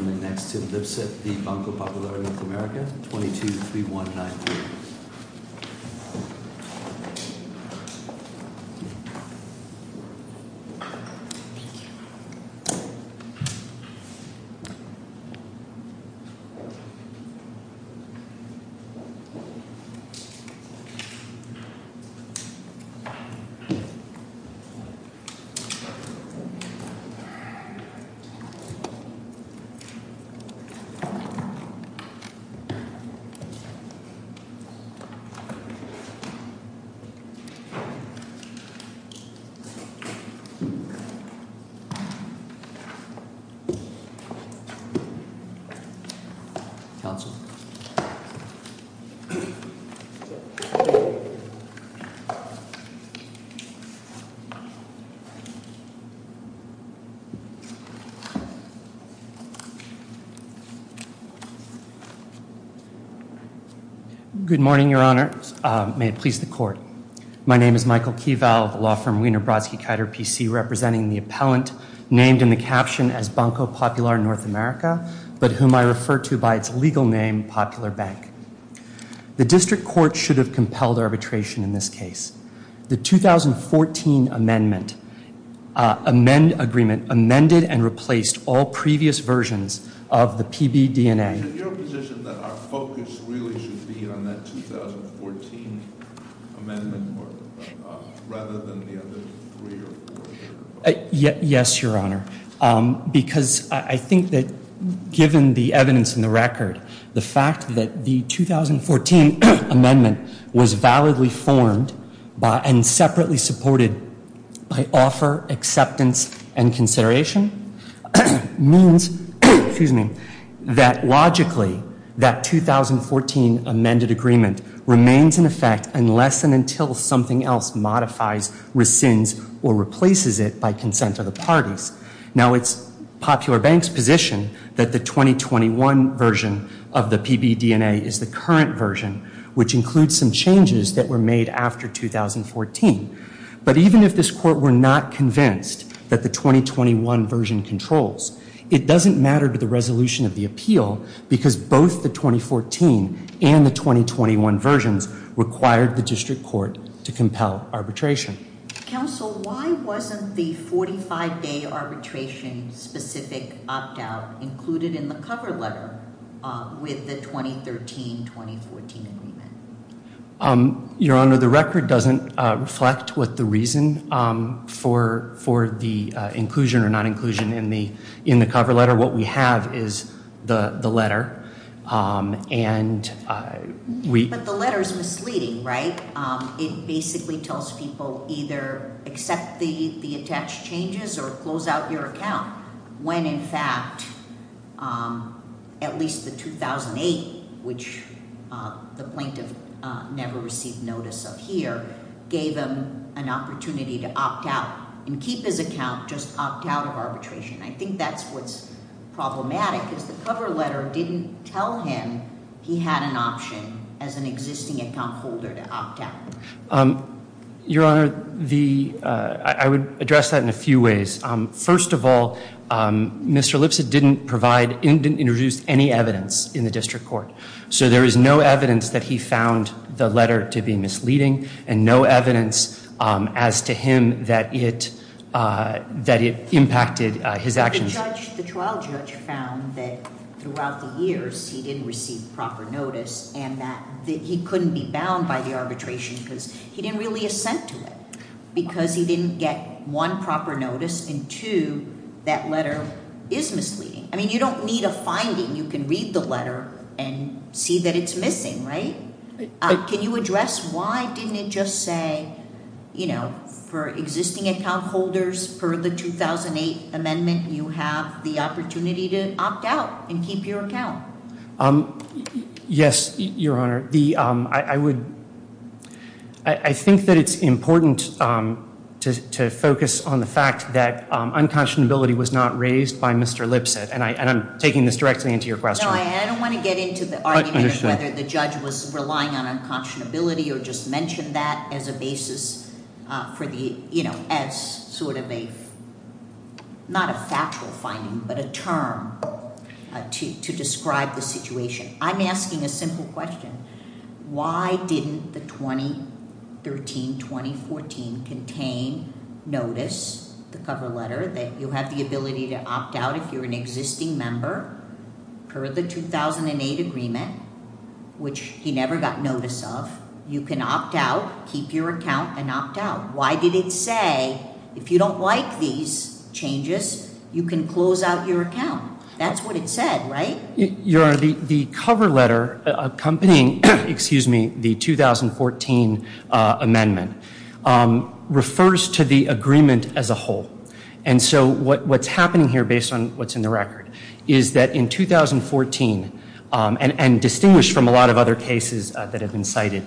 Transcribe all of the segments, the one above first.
22-3193 Good morning, your honor. May it please the court. My name is Michael Keyvalve, law firm Wiener-Brodsky-Keiter PC, representing the appellant named in the caption as Banco Popular North America, but whom I refer to by its legal name, Popular Bank. The district court should have compelled arbitration in this case. The 2014 amendment amended and replaced all previous versions of the PBDNA. Is it your position that our focus really should be on that 2014 amendment rather than the other three or four? Yes, your honor, because I think that given the evidence in the record, the fact that the 2014 amendment was validly formed and separately supported by offer, acceptance, and consideration means that logically that 2014 amended agreement remains in effect unless and until something else modifies, rescinds, or replaces it by consent of the parties. Now, it's Popular Bank's position that the 2021 version of the PBDNA is the current version, which includes some changes that were made after 2014. But even if this court were not convinced that the 2021 version controls, it doesn't matter to the resolution of the appeal because both the 2014 and the 2021 versions required the district court to compel arbitration. Counsel, why wasn't the 45-day arbitration specific opt-out included in the cover letter with the 2013-2014 agreement? Your honor, the record doesn't reflect what the reason for the inclusion or non-inclusion in the cover letter. What we have is the letter. But the letter is misleading, right? It basically tells people either accept the attached changes or close out your account when in fact at least the 2008, which the plaintiff never received notice of here, gave him an opportunity to opt out and keep his account, just opt out of arbitration. I think that's what's problematic is the cover letter didn't tell him he had an option as an existing account holder to opt out. Your honor, I would address that in a few ways. First of all, Mr. Lipset didn't introduce any evidence in the district court. So there is no evidence that he found the letter to be misleading and no evidence as to him that it impacted his actions. The trial judge found that throughout the years he didn't receive proper notice and that he couldn't be bound by the arbitration because he didn't really assent to it. Because he didn't get one proper notice and two, that letter is misleading. I mean, you don't need a finding. You can read the letter and see that it's missing, right? Can you address why didn't it just say, you know, for existing account holders for the 2008 amendment, you have the opportunity to opt out and keep your account? Yes, your honor. I think that it's important to focus on the fact that unconscionability was not raised by Mr. Lipset and I'm taking this directly into your question. I don't want to get into the argument of whether the judge was relying on unconscionability or just mentioned that as a basis for the, you know, as sort of a, not a factual finding, but a term to describe the situation. I'm asking a simple question. Why didn't the 2013-2014 contain notice, the cover letter, that you have the ability to opt out if you're an existing member per the 2008 agreement, which he never got notice of? You can opt out, keep your account and opt out. Why did it say if you don't like these changes, you can close out your account? That's what it said, right? Your honor, the cover letter accompanying, excuse me, the 2014 amendment refers to the agreement as a whole. And so what's happening here based on what's in the record is that in 2014, and distinguished from a lot of other cases that have been cited,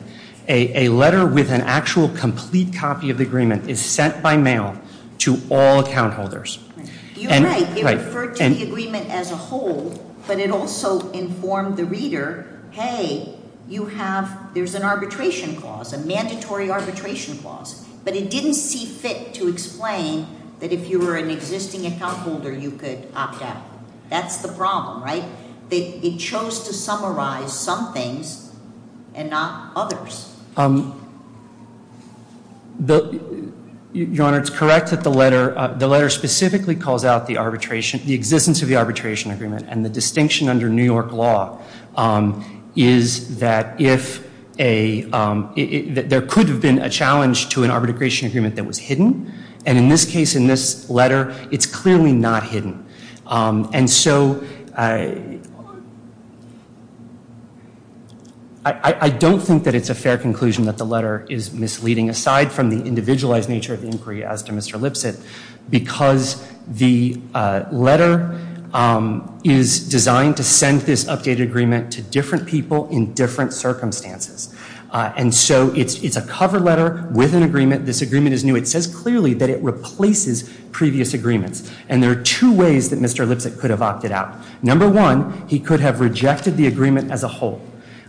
a letter with an actual complete copy of the agreement is sent by mail to all account holders. You're right. It referred to the agreement as a whole, but it also informed the reader, hey, you have, there's an arbitration clause, a mandatory arbitration clause. But it didn't see fit to explain that if you were an existing account holder, you could opt out. That's the problem, right? It chose to summarize some things and not others. Your honor, it's correct that the letter, the letter specifically calls out the arbitration, the existence of the arbitration agreement. And the distinction under New York law is that if a, there could have been a challenge to an arbitration agreement that was hidden. And in this case, in this letter, it's clearly not hidden. And so I don't think that it's a fair conclusion that the letter is misleading, aside from the individualized nature of the inquiry as to Mr. Lipset, because the letter is designed to send this updated agreement to different people in different circumstances. And so it's a cover letter with an agreement. This agreement is new. It says clearly that it replaces previous agreements. And there are two ways that Mr. Lipset could have opted out. Number one, he could have rejected the agreement as a whole.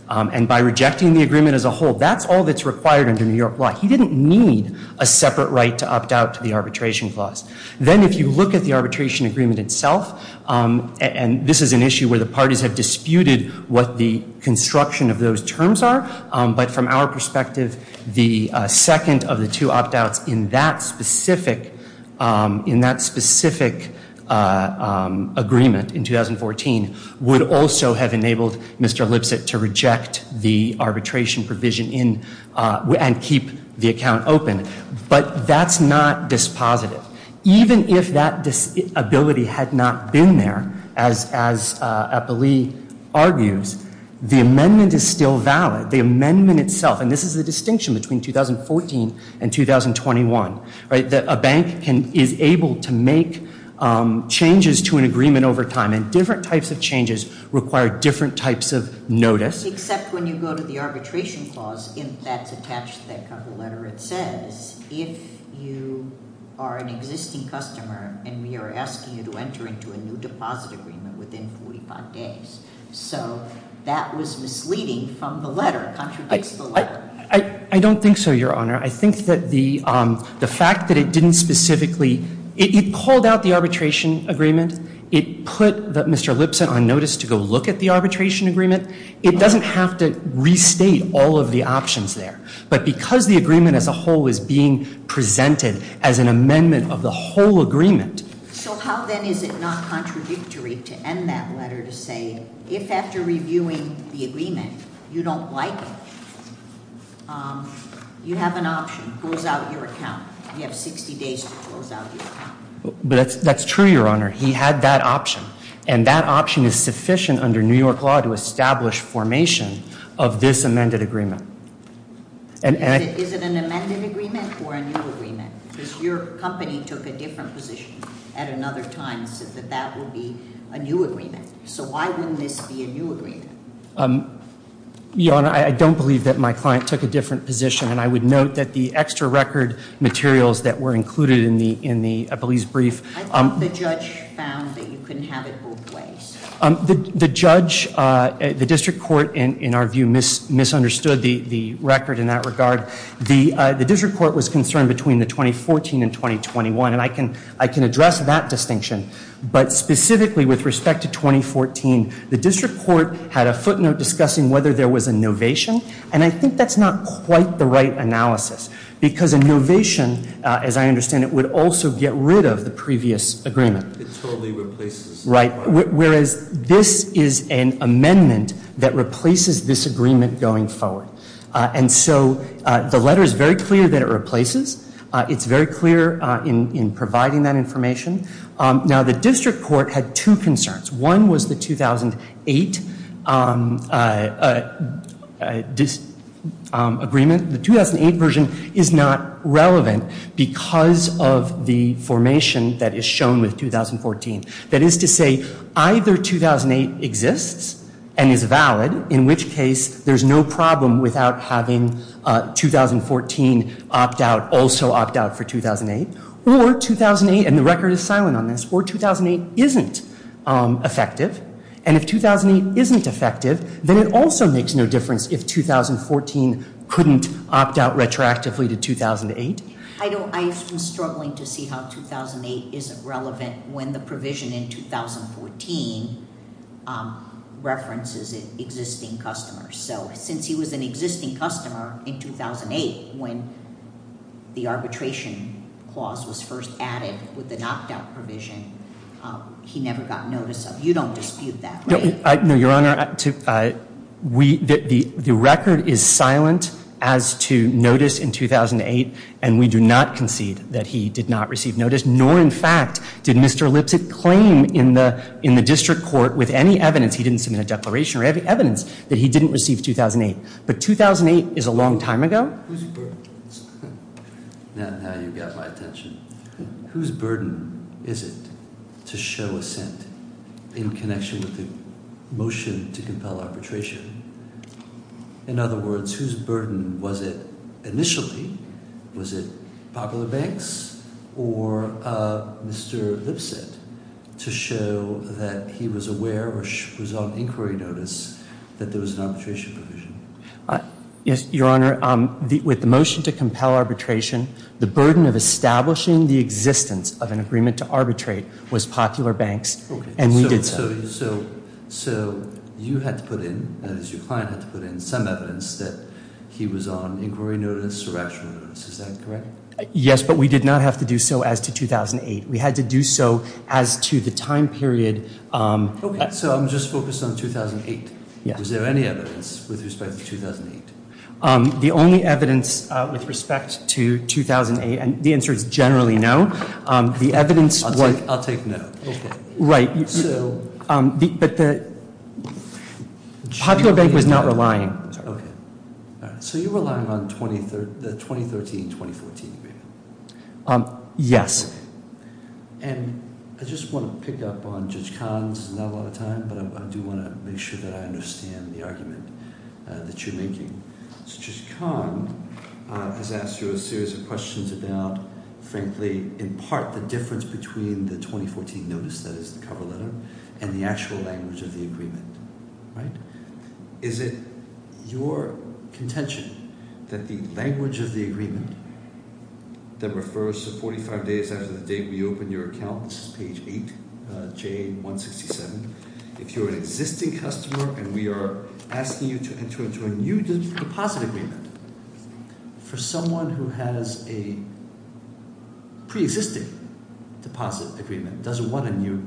And by rejecting the agreement as a whole, that's all that's required under New York law. He didn't need a separate right to opt out to the arbitration clause. Then if you look at the arbitration agreement itself, and this is an issue where the parties have disputed what the construction of those terms are. But from our perspective, the second of the two opt outs in that specific agreement in 2014 would also have enabled Mr. Lipset to reject the arbitration provision and keep the account open. But that's not dispositive. And this is the distinction between 2014 and 2021, right, that a bank is able to make changes to an agreement over time. And different types of changes require different types of notice. Except when you go to the arbitration clause, that's attached to that cover letter. It says if you are an existing customer and we are asking you to enter into a new deposit agreement within 45 days. So that was misleading from the letter. I don't think so, Your Honor. I think that the fact that it didn't specifically, it called out the arbitration agreement. It put Mr. Lipset on notice to go look at the arbitration agreement. It doesn't have to restate all of the options there. But because the agreement as a whole is being presented as an amendment of the whole agreement. So how then is it not contradictory to end that letter to say if after reviewing the agreement you don't like it, you have an option, close out your account. You have 60 days to close out your account. But that's true, Your Honor. He had that option. And that option is sufficient under New York law to establish formation of this amended agreement. Is it an amended agreement or a new agreement? Because your company took a different position at another time and said that that would be a new agreement. So why wouldn't this be a new agreement? Your Honor, I don't believe that my client took a different position. And I would note that the extra record materials that were included in the police brief- I think the judge found that you couldn't have it both ways. The judge, the district court, in our view, misunderstood the record in that regard. The district court was concerned between the 2014 and 2021. And I can address that distinction. But specifically with respect to 2014, the district court had a footnote discussing whether there was a novation. And I think that's not quite the right analysis. Because a novation, as I understand it, would also get rid of the previous agreement. It totally replaces- Right. Whereas this is an amendment that replaces this agreement going forward. And so the letter is very clear that it replaces. It's very clear in providing that information. Now the district court had two concerns. One was the 2008 agreement. The 2008 version is not relevant because of the formation that is shown with 2014. That is to say, either 2008 exists and is valid, in which case there's no problem without having 2014 opt out, also opt out for 2008. Or 2008, and the record is silent on this, or 2008 isn't effective. And if 2008 isn't effective, then it also makes no difference if 2014 couldn't opt out retroactively to 2008. I was struggling to see how 2008 isn't relevant when the provision in 2014 references existing customers. So since he was an existing customer in 2008 when the arbitration clause was first added with the knocked out provision, he never got notice of it. You don't dispute that, right? No, Your Honor. The record is silent as to notice in 2008, and we do not concede that he did not receive notice, nor in fact did Mr. Lipset claim in the district court with any evidence he didn't submit a declaration or any evidence that he didn't receive 2008. But 2008 is a long time ago. Whose burden is it? Now you've got my attention. Whose burden is it to show assent in connection with the motion to compel arbitration? In other words, whose burden was it initially? Was it Popular Banks or Mr. Lipset to show that he was aware or was on inquiry notice that there was an arbitration provision? Your Honor, with the motion to compel arbitration, the burden of establishing the existence of an agreement to arbitrate was Popular Banks, and we did so. So you had to put in, as your client had to put in, some evidence that he was on inquiry notice or actual notice. Is that correct? Yes, but we did not have to do so as to 2008. We had to do so as to the time period. Okay, so I'm just focused on 2008. Was there any evidence with respect to 2008? The only evidence with respect to 2008, and the answer is generally no. I'll take no. Right, but the Popular Bank was not relying. So you're relying on the 2013-2014 agreement? Yes. And I just want to pick up on Judge Kahn's not a lot of time, but I do want to make sure that I understand the argument that you're making. So Judge Kahn has asked you a series of questions about, frankly, in part the difference between the 2014 notice, that is the cover letter, and the actual language of the agreement. Is it your contention that the language of the agreement that refers to 45 days after the date we opened your account, this is page 8, J167, if you're an existing customer and we are asking you to enter into a new deposit agreement, for someone who has a pre-existing deposit agreement, doesn't want a new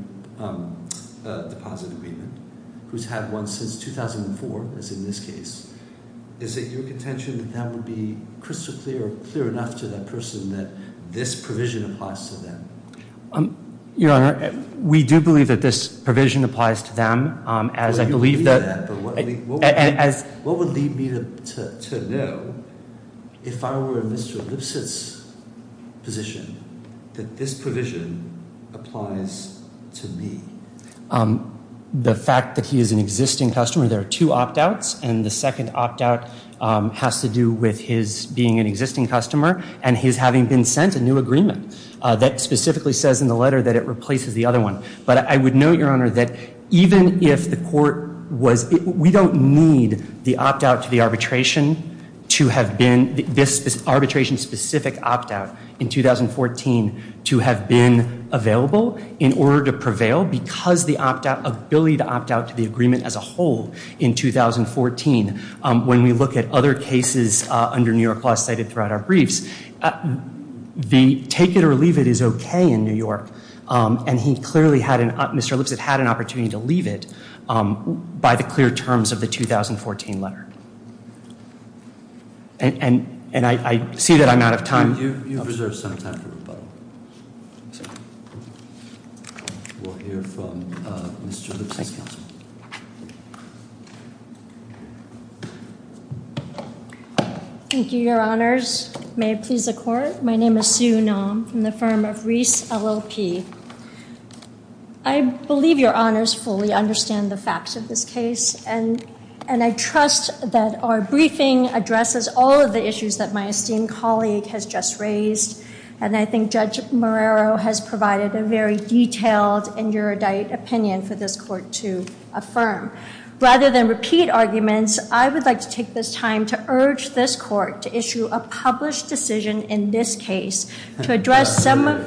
deposit agreement, who's had one since 2004, as in this case, is it your contention that that would be crystal clear or clear enough to that person that this provision applies to them? Your Honor, we do believe that this provision applies to them. Well, you believe that, but what would lead me to know, if I were in Mr. Lipsitz's position, that this provision applies to me? The fact that he is an existing customer, there are two opt-outs, and the second opt-out has to do with his being an existing customer and his having been sent a new agreement that specifically says in the letter that it replaces the other one. But I would note, Your Honor, that even if the court was, we don't need the opt-out to the arbitration to have been, this arbitration-specific opt-out in 2014 to have been available in order to prevail, because the ability to opt-out to the agreement as a whole in 2014, when we look at other cases under New York law cited throughout our briefs, the take-it-or-leave-it is okay in New York. And he clearly had, Mr. Lipsitz had an opportunity to leave it by the clear terms of the 2014 letter. And I see that I'm out of time. You have reserved some time for rebuttal. We'll hear from Mr. Lipsitz's counsel. Thank you, Your Honors. May it please the Court? My name is Sue Naum from the firm of Reese LLP. I believe Your Honors fully understand the facts of this case, and I trust that our briefing addresses all of the issues that my esteemed colleague has just raised, and I think Judge Marrero has provided a very detailed and erudite opinion for this Court to affirm. Rather than repeat arguments, I would like to take this time to urge this Court to issue a published decision in this case to address some of-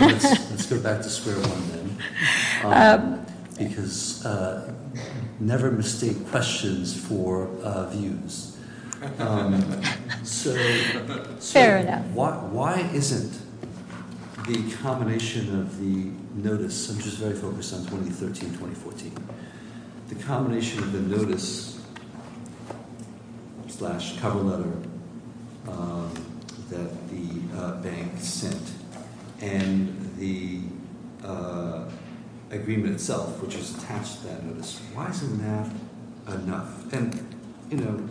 Let's go back to square one, then, because never mistake questions for views. Fair enough. Why isn't the combination of the notice, which is very focused on 2013-2014, the combination of the notice slash cover letter that the bank sent and the agreement itself, which is attached to that notice, why isn't that enough? And, you know,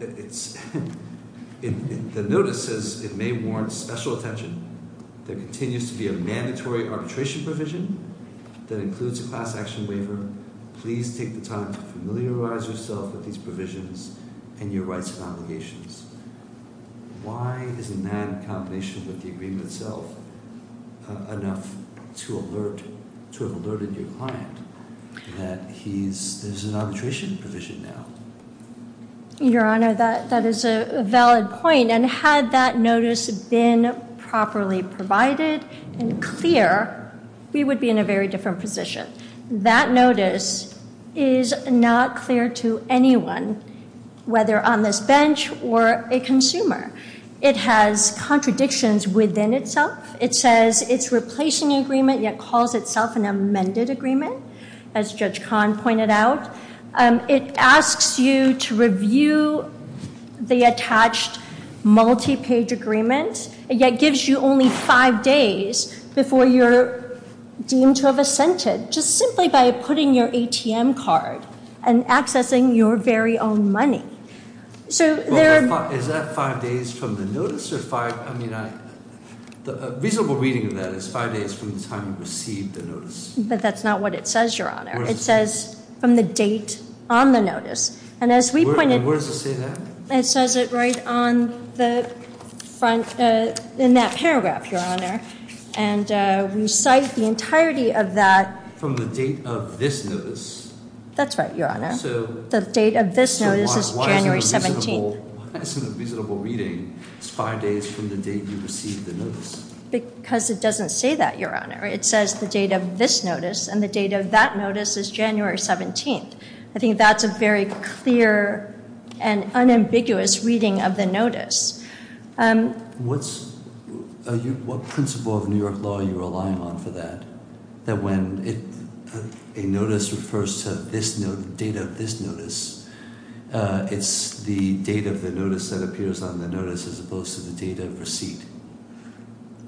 the notice says it may warrant special attention. There continues to be a mandatory arbitration provision that includes a class action waiver. Please take the time to familiarize yourself with these provisions and your rights and obligations. Why isn't that in combination with the agreement itself enough to alert- There's an arbitration provision now. Your Honor, that is a valid point, and had that notice been properly provided and clear, we would be in a very different position. That notice is not clear to anyone, whether on this bench or a consumer. It has contradictions within itself. It says it's replacing the agreement, yet calls itself an amended agreement, as Judge Kahn pointed out. It asks you to review the attached multi-page agreement, yet gives you only five days before you're deemed to have assented, just simply by putting your ATM card and accessing your very own money. Is that five days from the notice? A reasonable reading of that is five days from the time you received the notice. But that's not what it says, Your Honor. It says from the date on the notice. And where does it say that? It says it right in that paragraph, Your Honor. And we cite the entirety of that- From the date of this notice? That's right, Your Honor. The date of this notice is January 17th. So why is it a reasonable reading? It's five days from the date you received the notice. Because it doesn't say that, Your Honor. It says the date of this notice, and the date of that notice is January 17th. I think that's a very clear and unambiguous reading of the notice. What principle of New York law are you relying on for that? That when a notice refers to the date of this notice, it's the date of the notice that appears on the notice as opposed to the date of receipt.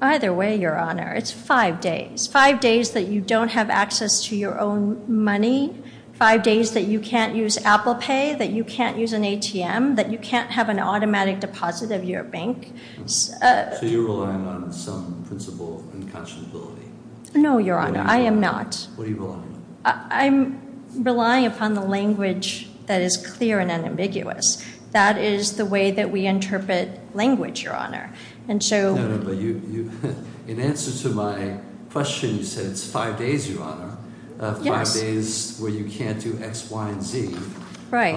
Either way, Your Honor, it's five days. Five days that you don't have access to your own money, five days that you can't use Apple Pay, that you can't use an ATM, that you can't have an automatic deposit of your bank. So you're relying on some principle of unconscionability. No, Your Honor, I am not. What are you relying on? I'm relying upon the language that is clear and unambiguous. That is the way that we interpret language, Your Honor. No, no, but in answer to my question, you said it's five days, Your Honor. Yes. Five days where you can't do X, Y, and Z. Right.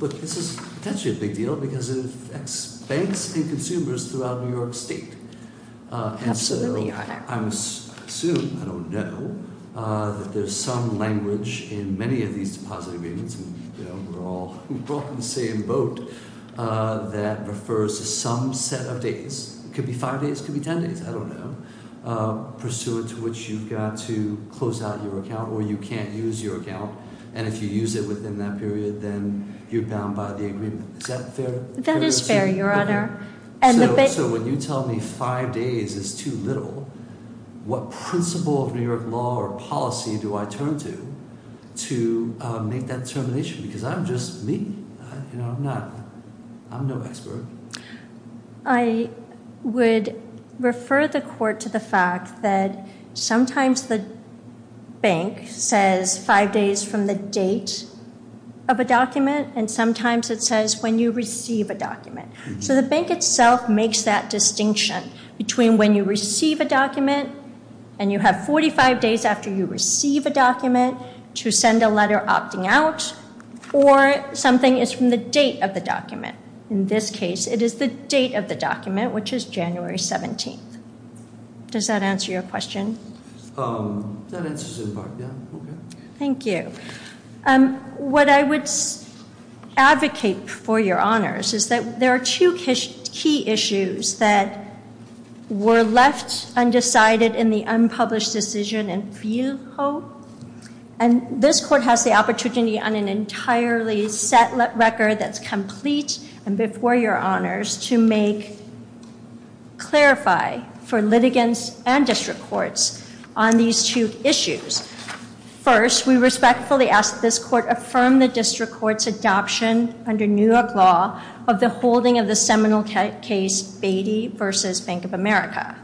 But this is potentially a big deal because it affects banks and consumers throughout New York State. Absolutely, Your Honor. And so I assume, I don't know, that there's some language in many of these deposit agreements, and we're all in the same boat, that refers to some set of dates. It could be five days, it could be ten days, I don't know, pursuant to which you've got to close out your account or you can't use your account. And if you use it within that period, then you're bound by the agreement. Is that fair? That is fair, Your Honor. Okay. So when you tell me five days is too little, what principle of New York law or policy do I turn to to make that determination? Because I'm just me. You know, I'm not, I'm no expert. I would refer the court to the fact that sometimes the bank says five days from the date of a document, and sometimes it says when you receive a document. So the bank itself makes that distinction between when you receive a document and you have 45 days after you receive a document to send a letter opting out, In this case, it is the date of the document, which is January 17th. Does that answer your question? That answers it in part, yeah. Okay. Thank you. What I would advocate for, Your Honors, is that there are two key issues that were left undecided in the unpublished decision in Buho. And this court has the opportunity on an entirely set record that's complete, and before Your Honors, to clarify for litigants and district courts on these two issues. First, we respectfully ask that this court affirm the district court's adoption under New York law of the holding of the seminal case Beatty v. Bank of America.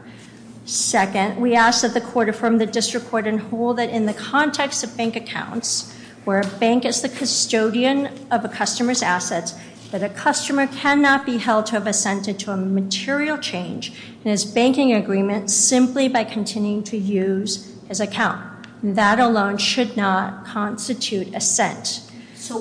Second, we ask that the court affirm the district court and hold it in the context of bank accounts, where a bank is the custodian of a customer's assets, that a customer cannot be held to have assented to a material change in his banking agreement simply by continuing to use his account. That alone should not constitute assent. So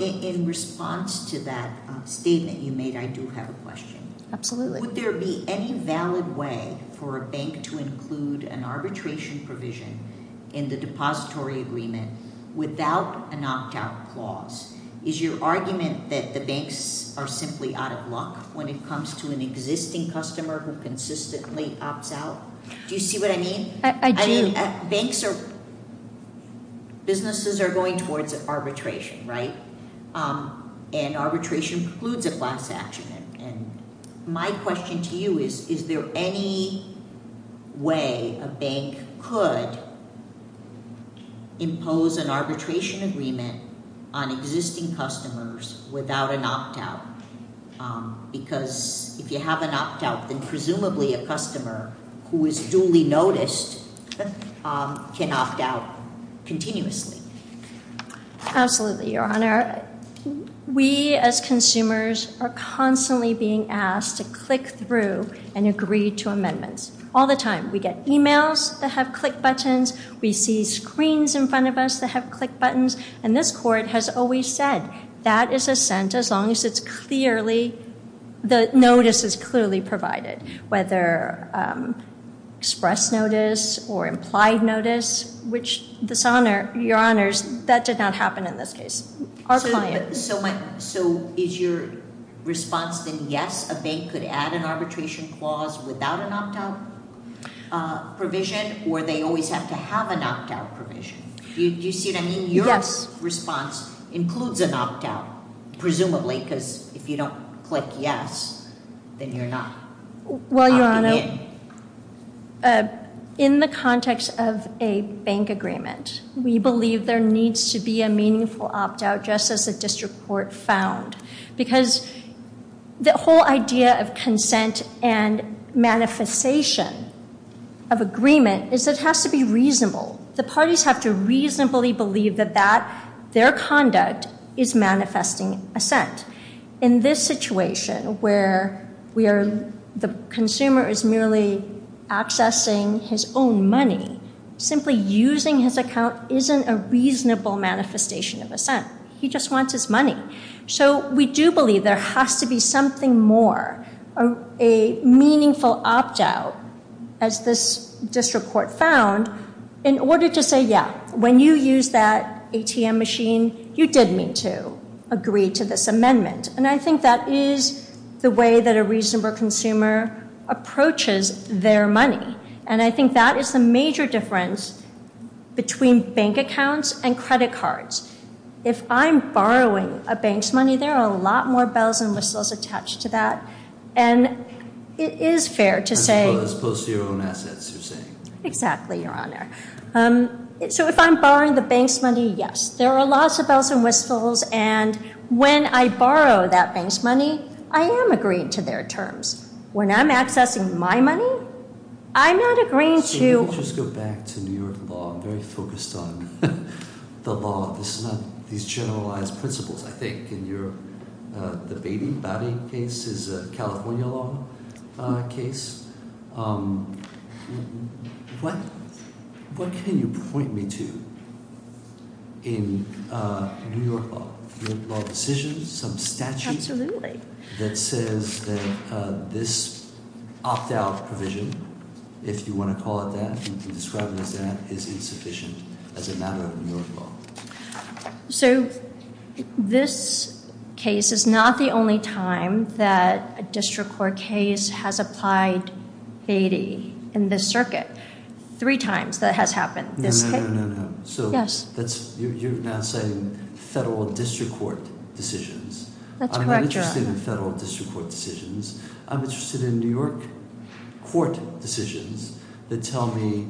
in response to that statement you made, I do have a question. Absolutely. Would there be any valid way for a bank to include an arbitration provision in the depository agreement without a knocked-out clause? Is your argument that the banks are simply out of luck when it comes to an existing customer who consistently opts out? Do you see what I mean? I do. Banks are—businesses are going towards arbitration, right? And arbitration includes a class action. And my question to you is, is there any way a bank could impose an arbitration agreement on existing customers without an opt-out? Because if you have an opt-out, then presumably a customer who is duly noticed can opt out continuously. Absolutely, Your Honor. We as consumers are constantly being asked to click through and agree to amendments. All the time. We get emails that have click buttons. We see screens in front of us that have click buttons. And this Court has always said that is assent as long as it's clearly—the notice is clearly provided, whether express notice or implied notice, which, Your Honors, that did not happen in this case. So is your response then yes, a bank could add an arbitration clause without an opt-out provision, or they always have to have an opt-out provision? Do you see what I mean? Yes. Your response includes an opt-out, presumably, because if you don't click yes, then you're not opting in. Well, Your Honor, in the context of a bank agreement, we believe there needs to be a meaningful opt-out just as the District Court found. Because the whole idea of consent and manifestation of agreement is it has to be reasonable. The parties have to reasonably believe that their conduct is manifesting assent. In this situation where the consumer is merely accessing his own money, simply using his account isn't a reasonable manifestation of assent. He just wants his money. So we do believe there has to be something more, a meaningful opt-out, as this District Court found, in order to say, yeah, when you used that ATM machine, you did mean to agree to this amendment. And I think that is the way that a reasonable consumer approaches their money. And I think that is the major difference between bank accounts and credit cards. If I'm borrowing a bank's money, there are a lot more bells and whistles attached to that. And it is fair to say— As opposed to your own assets, you're saying. Exactly, Your Honor. So if I'm borrowing the bank's money, yes, there are lots of bells and whistles. And when I borrow that bank's money, I am agreeing to their terms. When I'm accessing my money, I'm not agreeing to— So let me just go back to New York law. I'm very focused on the law. This is not these generalized principles. I think in your debating body case is a California law case. What can you point me to in New York law? New York law decisions, some statute? Absolutely. That says that this opt-out provision, if you want to call it that, you can describe it as that, is insufficient as a matter of New York law. So this case is not the only time that a district court case has applied Beatty in this circuit. Three times that has happened. No, no, no, no, no. Yes. You're now saying federal district court decisions. That's correct, Your Honor. I'm not interested in federal district court decisions. I'm interested in New York court decisions that tell me,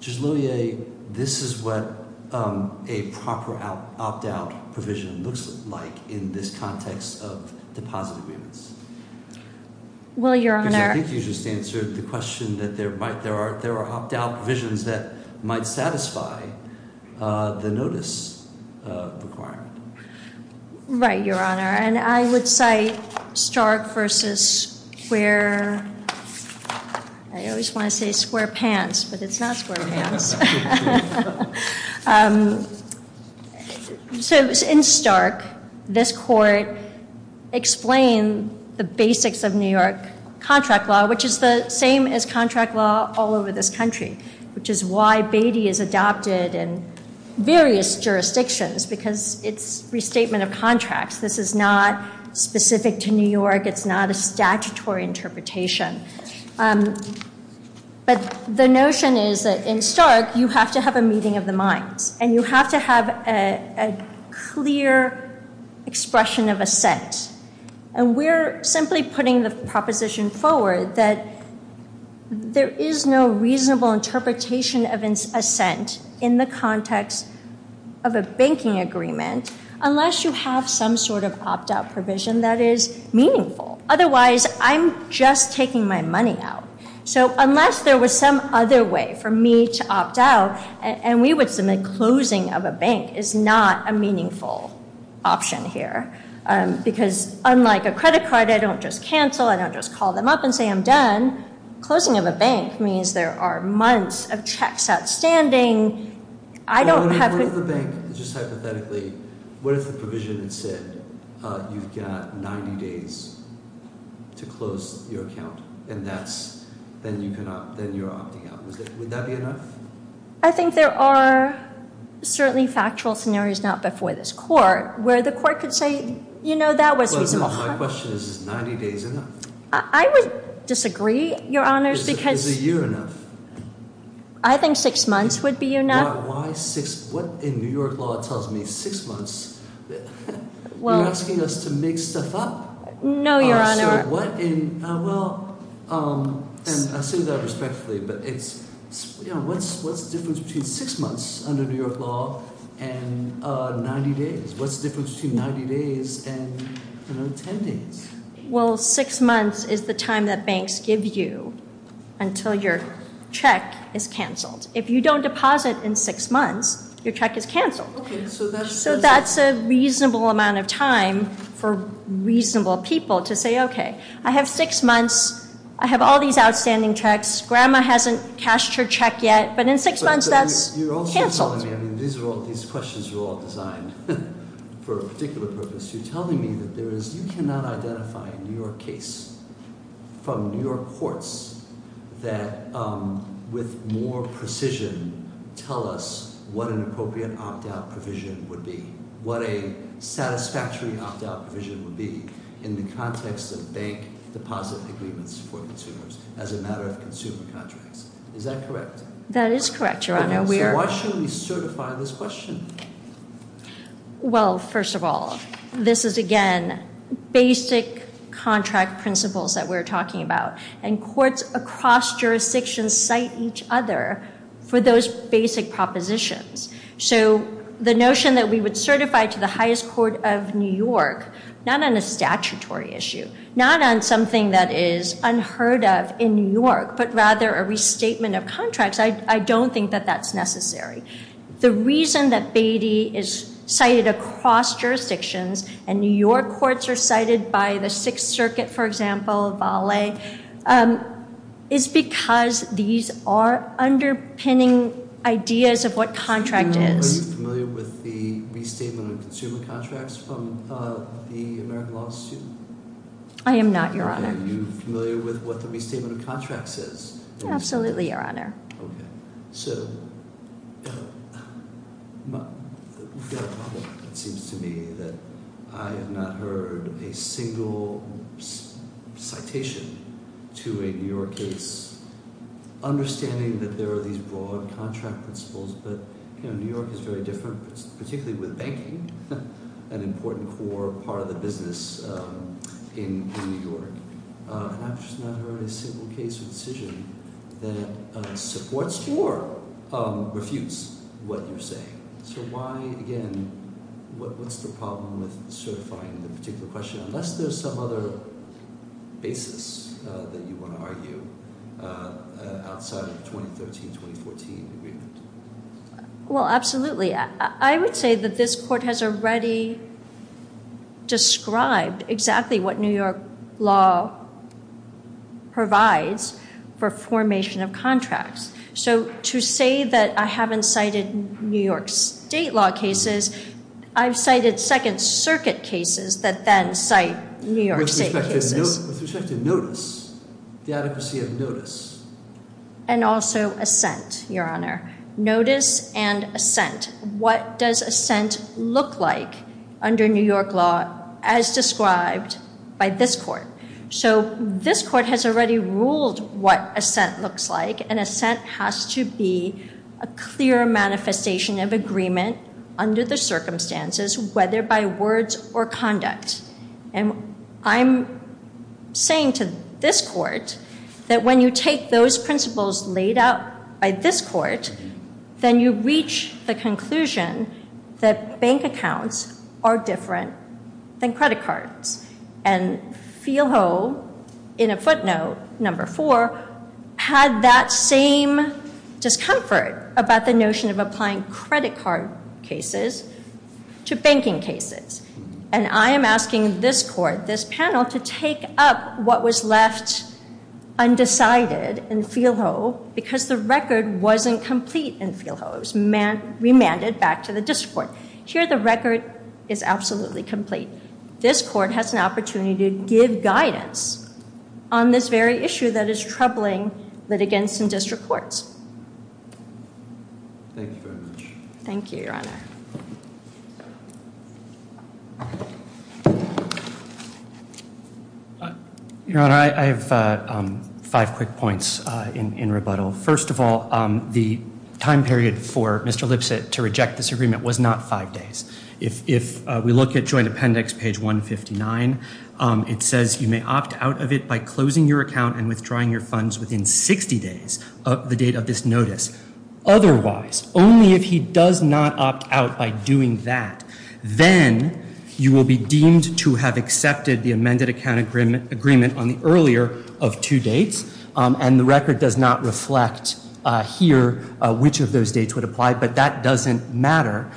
Judge Lohier, this is what a proper opt-out provision looks like in this context of deposit agreements. Well, Your Honor— Because I think you just answered the question that there are opt-out provisions that might satisfy the notice requirement. Right, Your Honor. And I would cite Stark v. Square—I always want to say Square Pants, but it's not Square Pants. So in Stark, this court explained the basics of New York contract law, which is the same as contract law all over this country, which is why Beatty is adopted in various jurisdictions, because it's restatement of contracts. This is not specific to New York. It's not a statutory interpretation. But the notion is that in Stark, you have to have a meeting of the minds, and you have to have a clear expression of assent. And we're simply putting the proposition forward that there is no reasonable interpretation of assent in the context of a banking agreement unless you have some sort of opt-out provision that is meaningful. Otherwise, I'm just taking my money out. So unless there was some other way for me to opt out, and we would submit closing of a bank is not a meaningful option here, because unlike a credit card, I don't just cancel. I don't just call them up and say, I'm done. Closing of a bank means there are months of checks outstanding. I don't have to- What if the bank, just hypothetically, what if the provision had said, you've got 90 days to close your account, and then you're opting out? Would that be enough? I think there are certainly factual scenarios, not before this court, where the court could say, you know, that was reasonable. My question is, is 90 days enough? I would disagree, Your Honors, because- Is a year enough? I think six months would be enough. Why six, what in New York law tells me six months? You're asking us to make stuff up? No, Your Honor. So what in, well, and I'll say that respectfully, but it's, you know, what's the difference between six months under New York law and 90 days? What's the difference between 90 days and, you know, 10 days? Well, six months is the time that banks give you until your check is canceled. If you don't deposit in six months, your check is canceled. Okay, so that's- So that's a reasonable amount of time for reasonable people to say, okay, I have six months. I have all these outstanding checks. Grandma hasn't cashed her check yet, but in six months, that's canceled. You're also telling me, I mean, these questions are all designed for a particular purpose. You're telling me that there is, you cannot identify a New York case from New York courts that with more precision tell us what an appropriate opt-out provision would be, what a satisfactory opt-out provision would be in the context of bank deposit agreements for consumers as a matter of consumer contracts. Is that correct? That is correct, Your Honor. So why should we certify this question? Well, first of all, this is, again, basic contract principles that we're talking about, and courts across jurisdictions cite each other for those basic propositions. So the notion that we would certify to the highest court of New York, not on a statutory issue, not on something that is unheard of in New York, but rather a restatement of contracts, I don't think that that's necessary. The reason that Beatty is cited across jurisdictions and New York courts are cited by the Sixth Circuit, for example, is because these are underpinning ideas of what contract is. Are you familiar with the restatement of consumer contracts from the American Law Institute? I am not, Your Honor. Are you familiar with what the restatement of contracts is? Absolutely, Your Honor. Okay. So we've got a problem, it seems to me, that I have not heard a single citation to a New York case understanding that there are these broad contract principles, but New York is very different, particularly with banking, an important core part of the business in New York. And I've just not heard a single case or decision that supports or refutes what you're saying. So why, again, what's the problem with certifying the particular question, unless there's some other basis that you want to argue outside of the 2013-2014 agreement? Well, absolutely. I would say that this court has already described exactly what New York law provides for formation of contracts. So to say that I haven't cited New York state law cases, I've cited Second Circuit cases that then cite New York state cases. With respect to notice, the adequacy of notice. And also assent, Your Honor. Notice and assent. What does assent look like under New York law as described by this court? So this court has already ruled what assent looks like, and assent has to be a clear manifestation of agreement under the circumstances, whether by words or conduct. And I'm saying to this court that when you take those principles laid out by this court, then you reach the conclusion that bank accounts are different than credit cards. And Phil Ho, in a footnote, number four, had that same discomfort about the notion of applying credit card cases to banking cases. And I am asking this court, this panel, to take up what was left undecided in Phil Ho, because the record wasn't complete in Phil Ho. It was remanded back to the district court. Here the record is absolutely complete. This court has an opportunity to give guidance on this very issue that is troubling litigants in district courts. Thank you very much. Thank you, Your Honor. Your Honor, I have five quick points in rebuttal. First of all, the time period for Mr. Lipset to reject this agreement was not five days. If we look at Joint Appendix, page 159, it says you may opt out of it by closing your account and withdrawing your funds within 60 days of the date of this notice. Otherwise, only if he does not opt out by doing that, then you will be deemed to have accepted the amended account agreement on the earlier of two dates. And the record does not reflect here which of those dates would apply, but that doesn't matter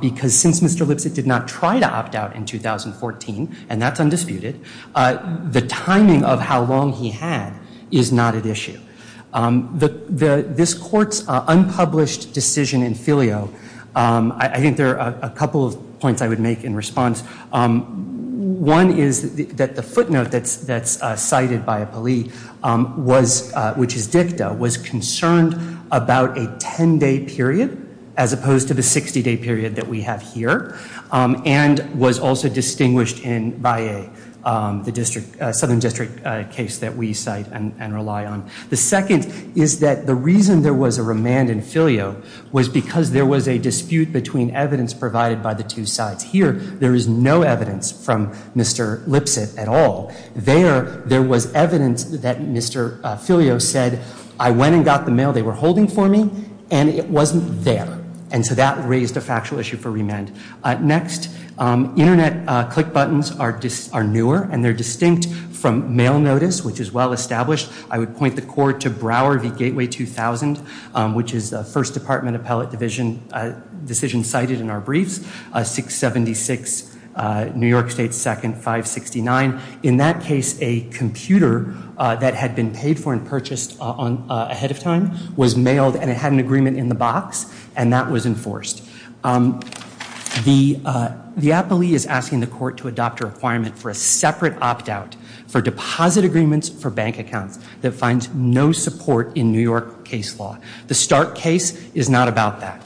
because since Mr. Lipset did not try to opt out in 2014, and that's undisputed, the timing of how long he had is not at issue. This court's unpublished decision in filio, I think there are a couple of points I would make in response. One is that the footnote that's cited by a plea, which is dicta, was concerned about a 10-day period as opposed to the 60-day period that we have here and was also distinguished in Valle, the southern district case that we cite and rely on. The second is that the reason there was a remand in filio was because there was a dispute between evidence provided by the two sides. Here, there is no evidence from Mr. Lipset at all. There, there was evidence that Mr. Filio said, I went and got the mail they were holding for me and it wasn't there. And so that raised a factual issue for remand. Next, internet click buttons are newer and they're distinct from mail notice, which is well established. I would point the court to Broward v. Gateway 2000, which is the first department appellate division decision cited in our briefs, 676 New York State 2nd 569. In that case, a computer that had been paid for and purchased ahead of time was mailed and it had an agreement in the box and that was enforced. The, the appellee is asking the court to adopt a requirement for a separate opt-out for deposit agreements for bank accounts that finds no support in New York case law. The Stark case is not about that.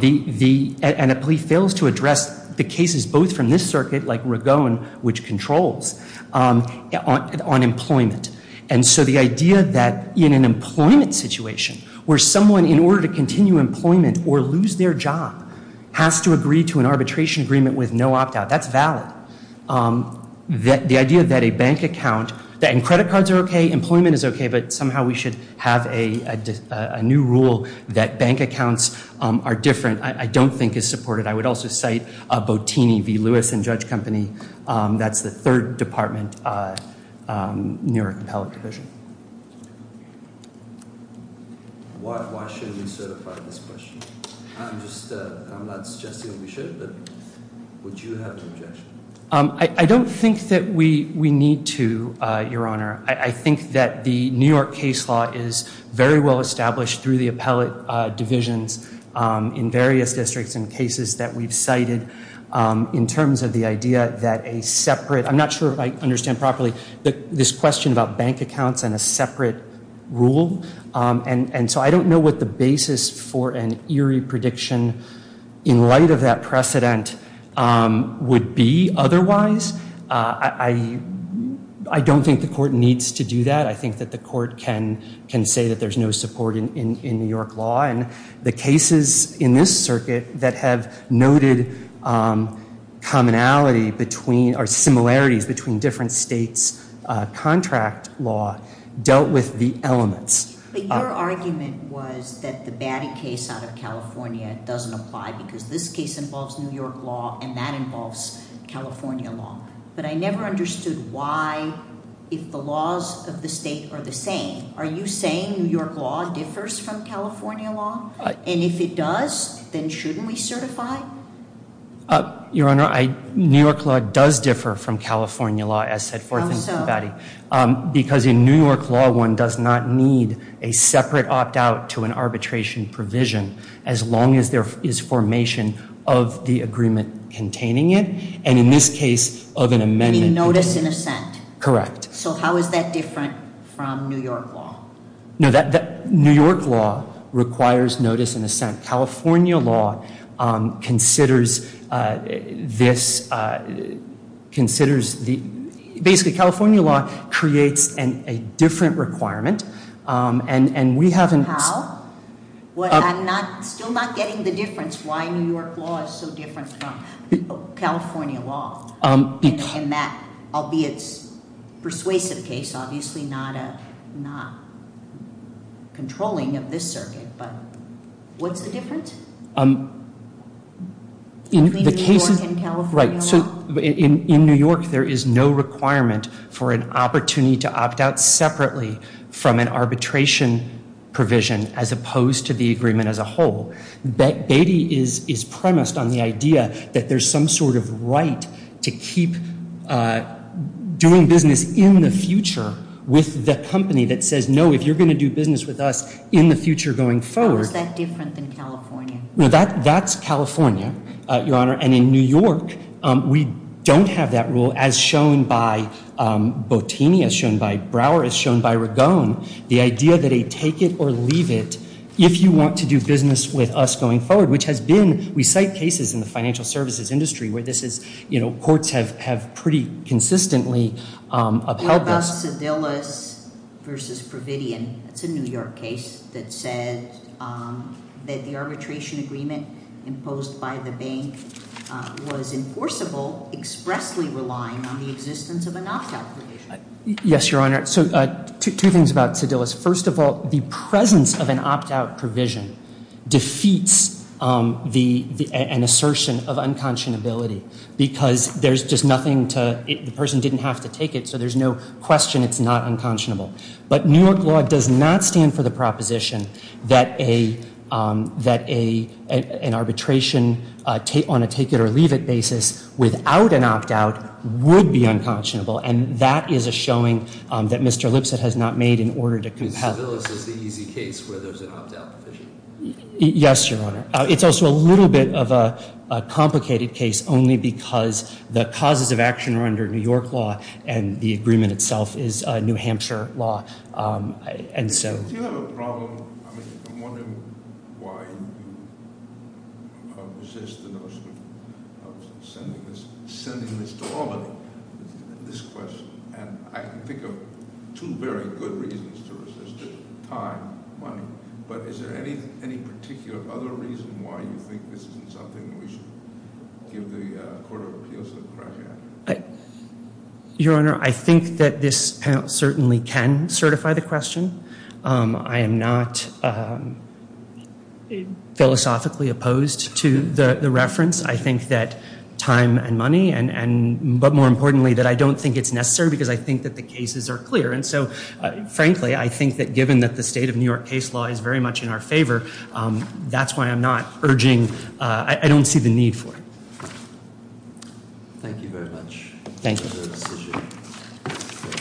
The, the, an appellee fails to address the cases both from this circuit, like Ragone, which controls on, on employment. And so the idea that in an employment situation where someone, in order to continue employment or lose their job has to agree to an arbitration agreement with no opt-out, that's valid. The idea that a bank account, and credit cards are okay, employment is okay, but somehow we should have a new rule that bank accounts are different, I don't think is supported. But I would also cite Botini v. Lewis and Judge Company. That's the third department New York appellate division. Why, why shouldn't we certify this question? I'm just, I'm not suggesting that we should, but would you have an objection? I, I don't think that we, we need to, Your Honor. I, I think that the New York case law is very well established through the appellate divisions in various districts and cases that we've cited in terms of the idea that a separate, I'm not sure if I understand properly, this question about bank accounts and a separate rule. And, and so I don't know what the basis for an eerie prediction in light of that precedent would be otherwise. I, I, I don't think the court needs to do that. I think that the court can, can say that there's no support in, in New York law. And the cases in this circuit that have noted commonality between, or similarities between different states' contract law dealt with the elements. But your argument was that the Batty case out of California doesn't apply because this case involves New York law and that involves California law. But I never understood why, if the laws of the state are the same, are you saying New York law differs from California law? And if it does, then shouldn't we certify? Your Honor, I, New York law does differ from California law as set forth in Batty. Because in New York law, one does not need a separate opt out to an arbitration provision, as long as there is formation of the agreement containing it. And in this case, of an amendment. You mean notice and assent? Correct. So how is that different from New York law? California law considers this, considers the, basically California law creates a different requirement. And we haven't. How? I'm still not getting the difference why New York law is so different from California law. And that, albeit persuasive case, obviously not a, not controlling of this circuit. But what's the difference? In the case of, right. So in New York, there is no requirement for an opportunity to opt out separately from an arbitration provision as opposed to the agreement as a whole. Batty is premised on the idea that there's some sort of right to keep doing business in the future with the company that says, no, if you're going to do business with us in the future going forward. How is that different than California? Well, that's California, Your Honor. And in New York, we don't have that rule as shown by Botini, as shown by Brower, as shown by Ragone. The idea that they take it or leave it if you want to do business with us going forward, which has been, we cite cases in the financial services industry where this is, you know, courts have pretty consistently upheld this. What about Sedillus versus Providian? It's a New York case that said that the arbitration agreement imposed by the bank was enforceable, expressly relying on the existence of an opt-out provision. Yes, Your Honor. So two things about Sedillus. First of all, the presence of an opt-out provision defeats an assertion of unconscionability, because there's just nothing to, the person didn't have to take it, so there's no question it's not unconscionable. But New York law does not stand for the proposition that an arbitration on a take-it-or-leave-it basis without an opt-out would be unconscionable, and that is a showing that Mr. Lipset has not made in order to compel. Sedillus is the easy case where there's an opt-out provision. Yes, Your Honor. It's also a little bit of a complicated case only because the causes of action are under New York law, and the agreement itself is New Hampshire law, and so. Since you have a problem, I mean, I'm wondering why you resist the notion of sending this to Albany, this question. And I can think of two very good reasons to resist it, time, money. But is there any particular other reason why you think this isn't something we should give the Court of Appeals to crack at? Your Honor, I think that this panel certainly can certify the question. I am not philosophically opposed to the reference. I think that time and money, but more importantly that I don't think it's necessary because I think that the cases are clear. And so, frankly, I think that given that the state of New York case law is very much in our favor, that's why I'm not urging. I don't see the need for it. Thank you very much. Thank you.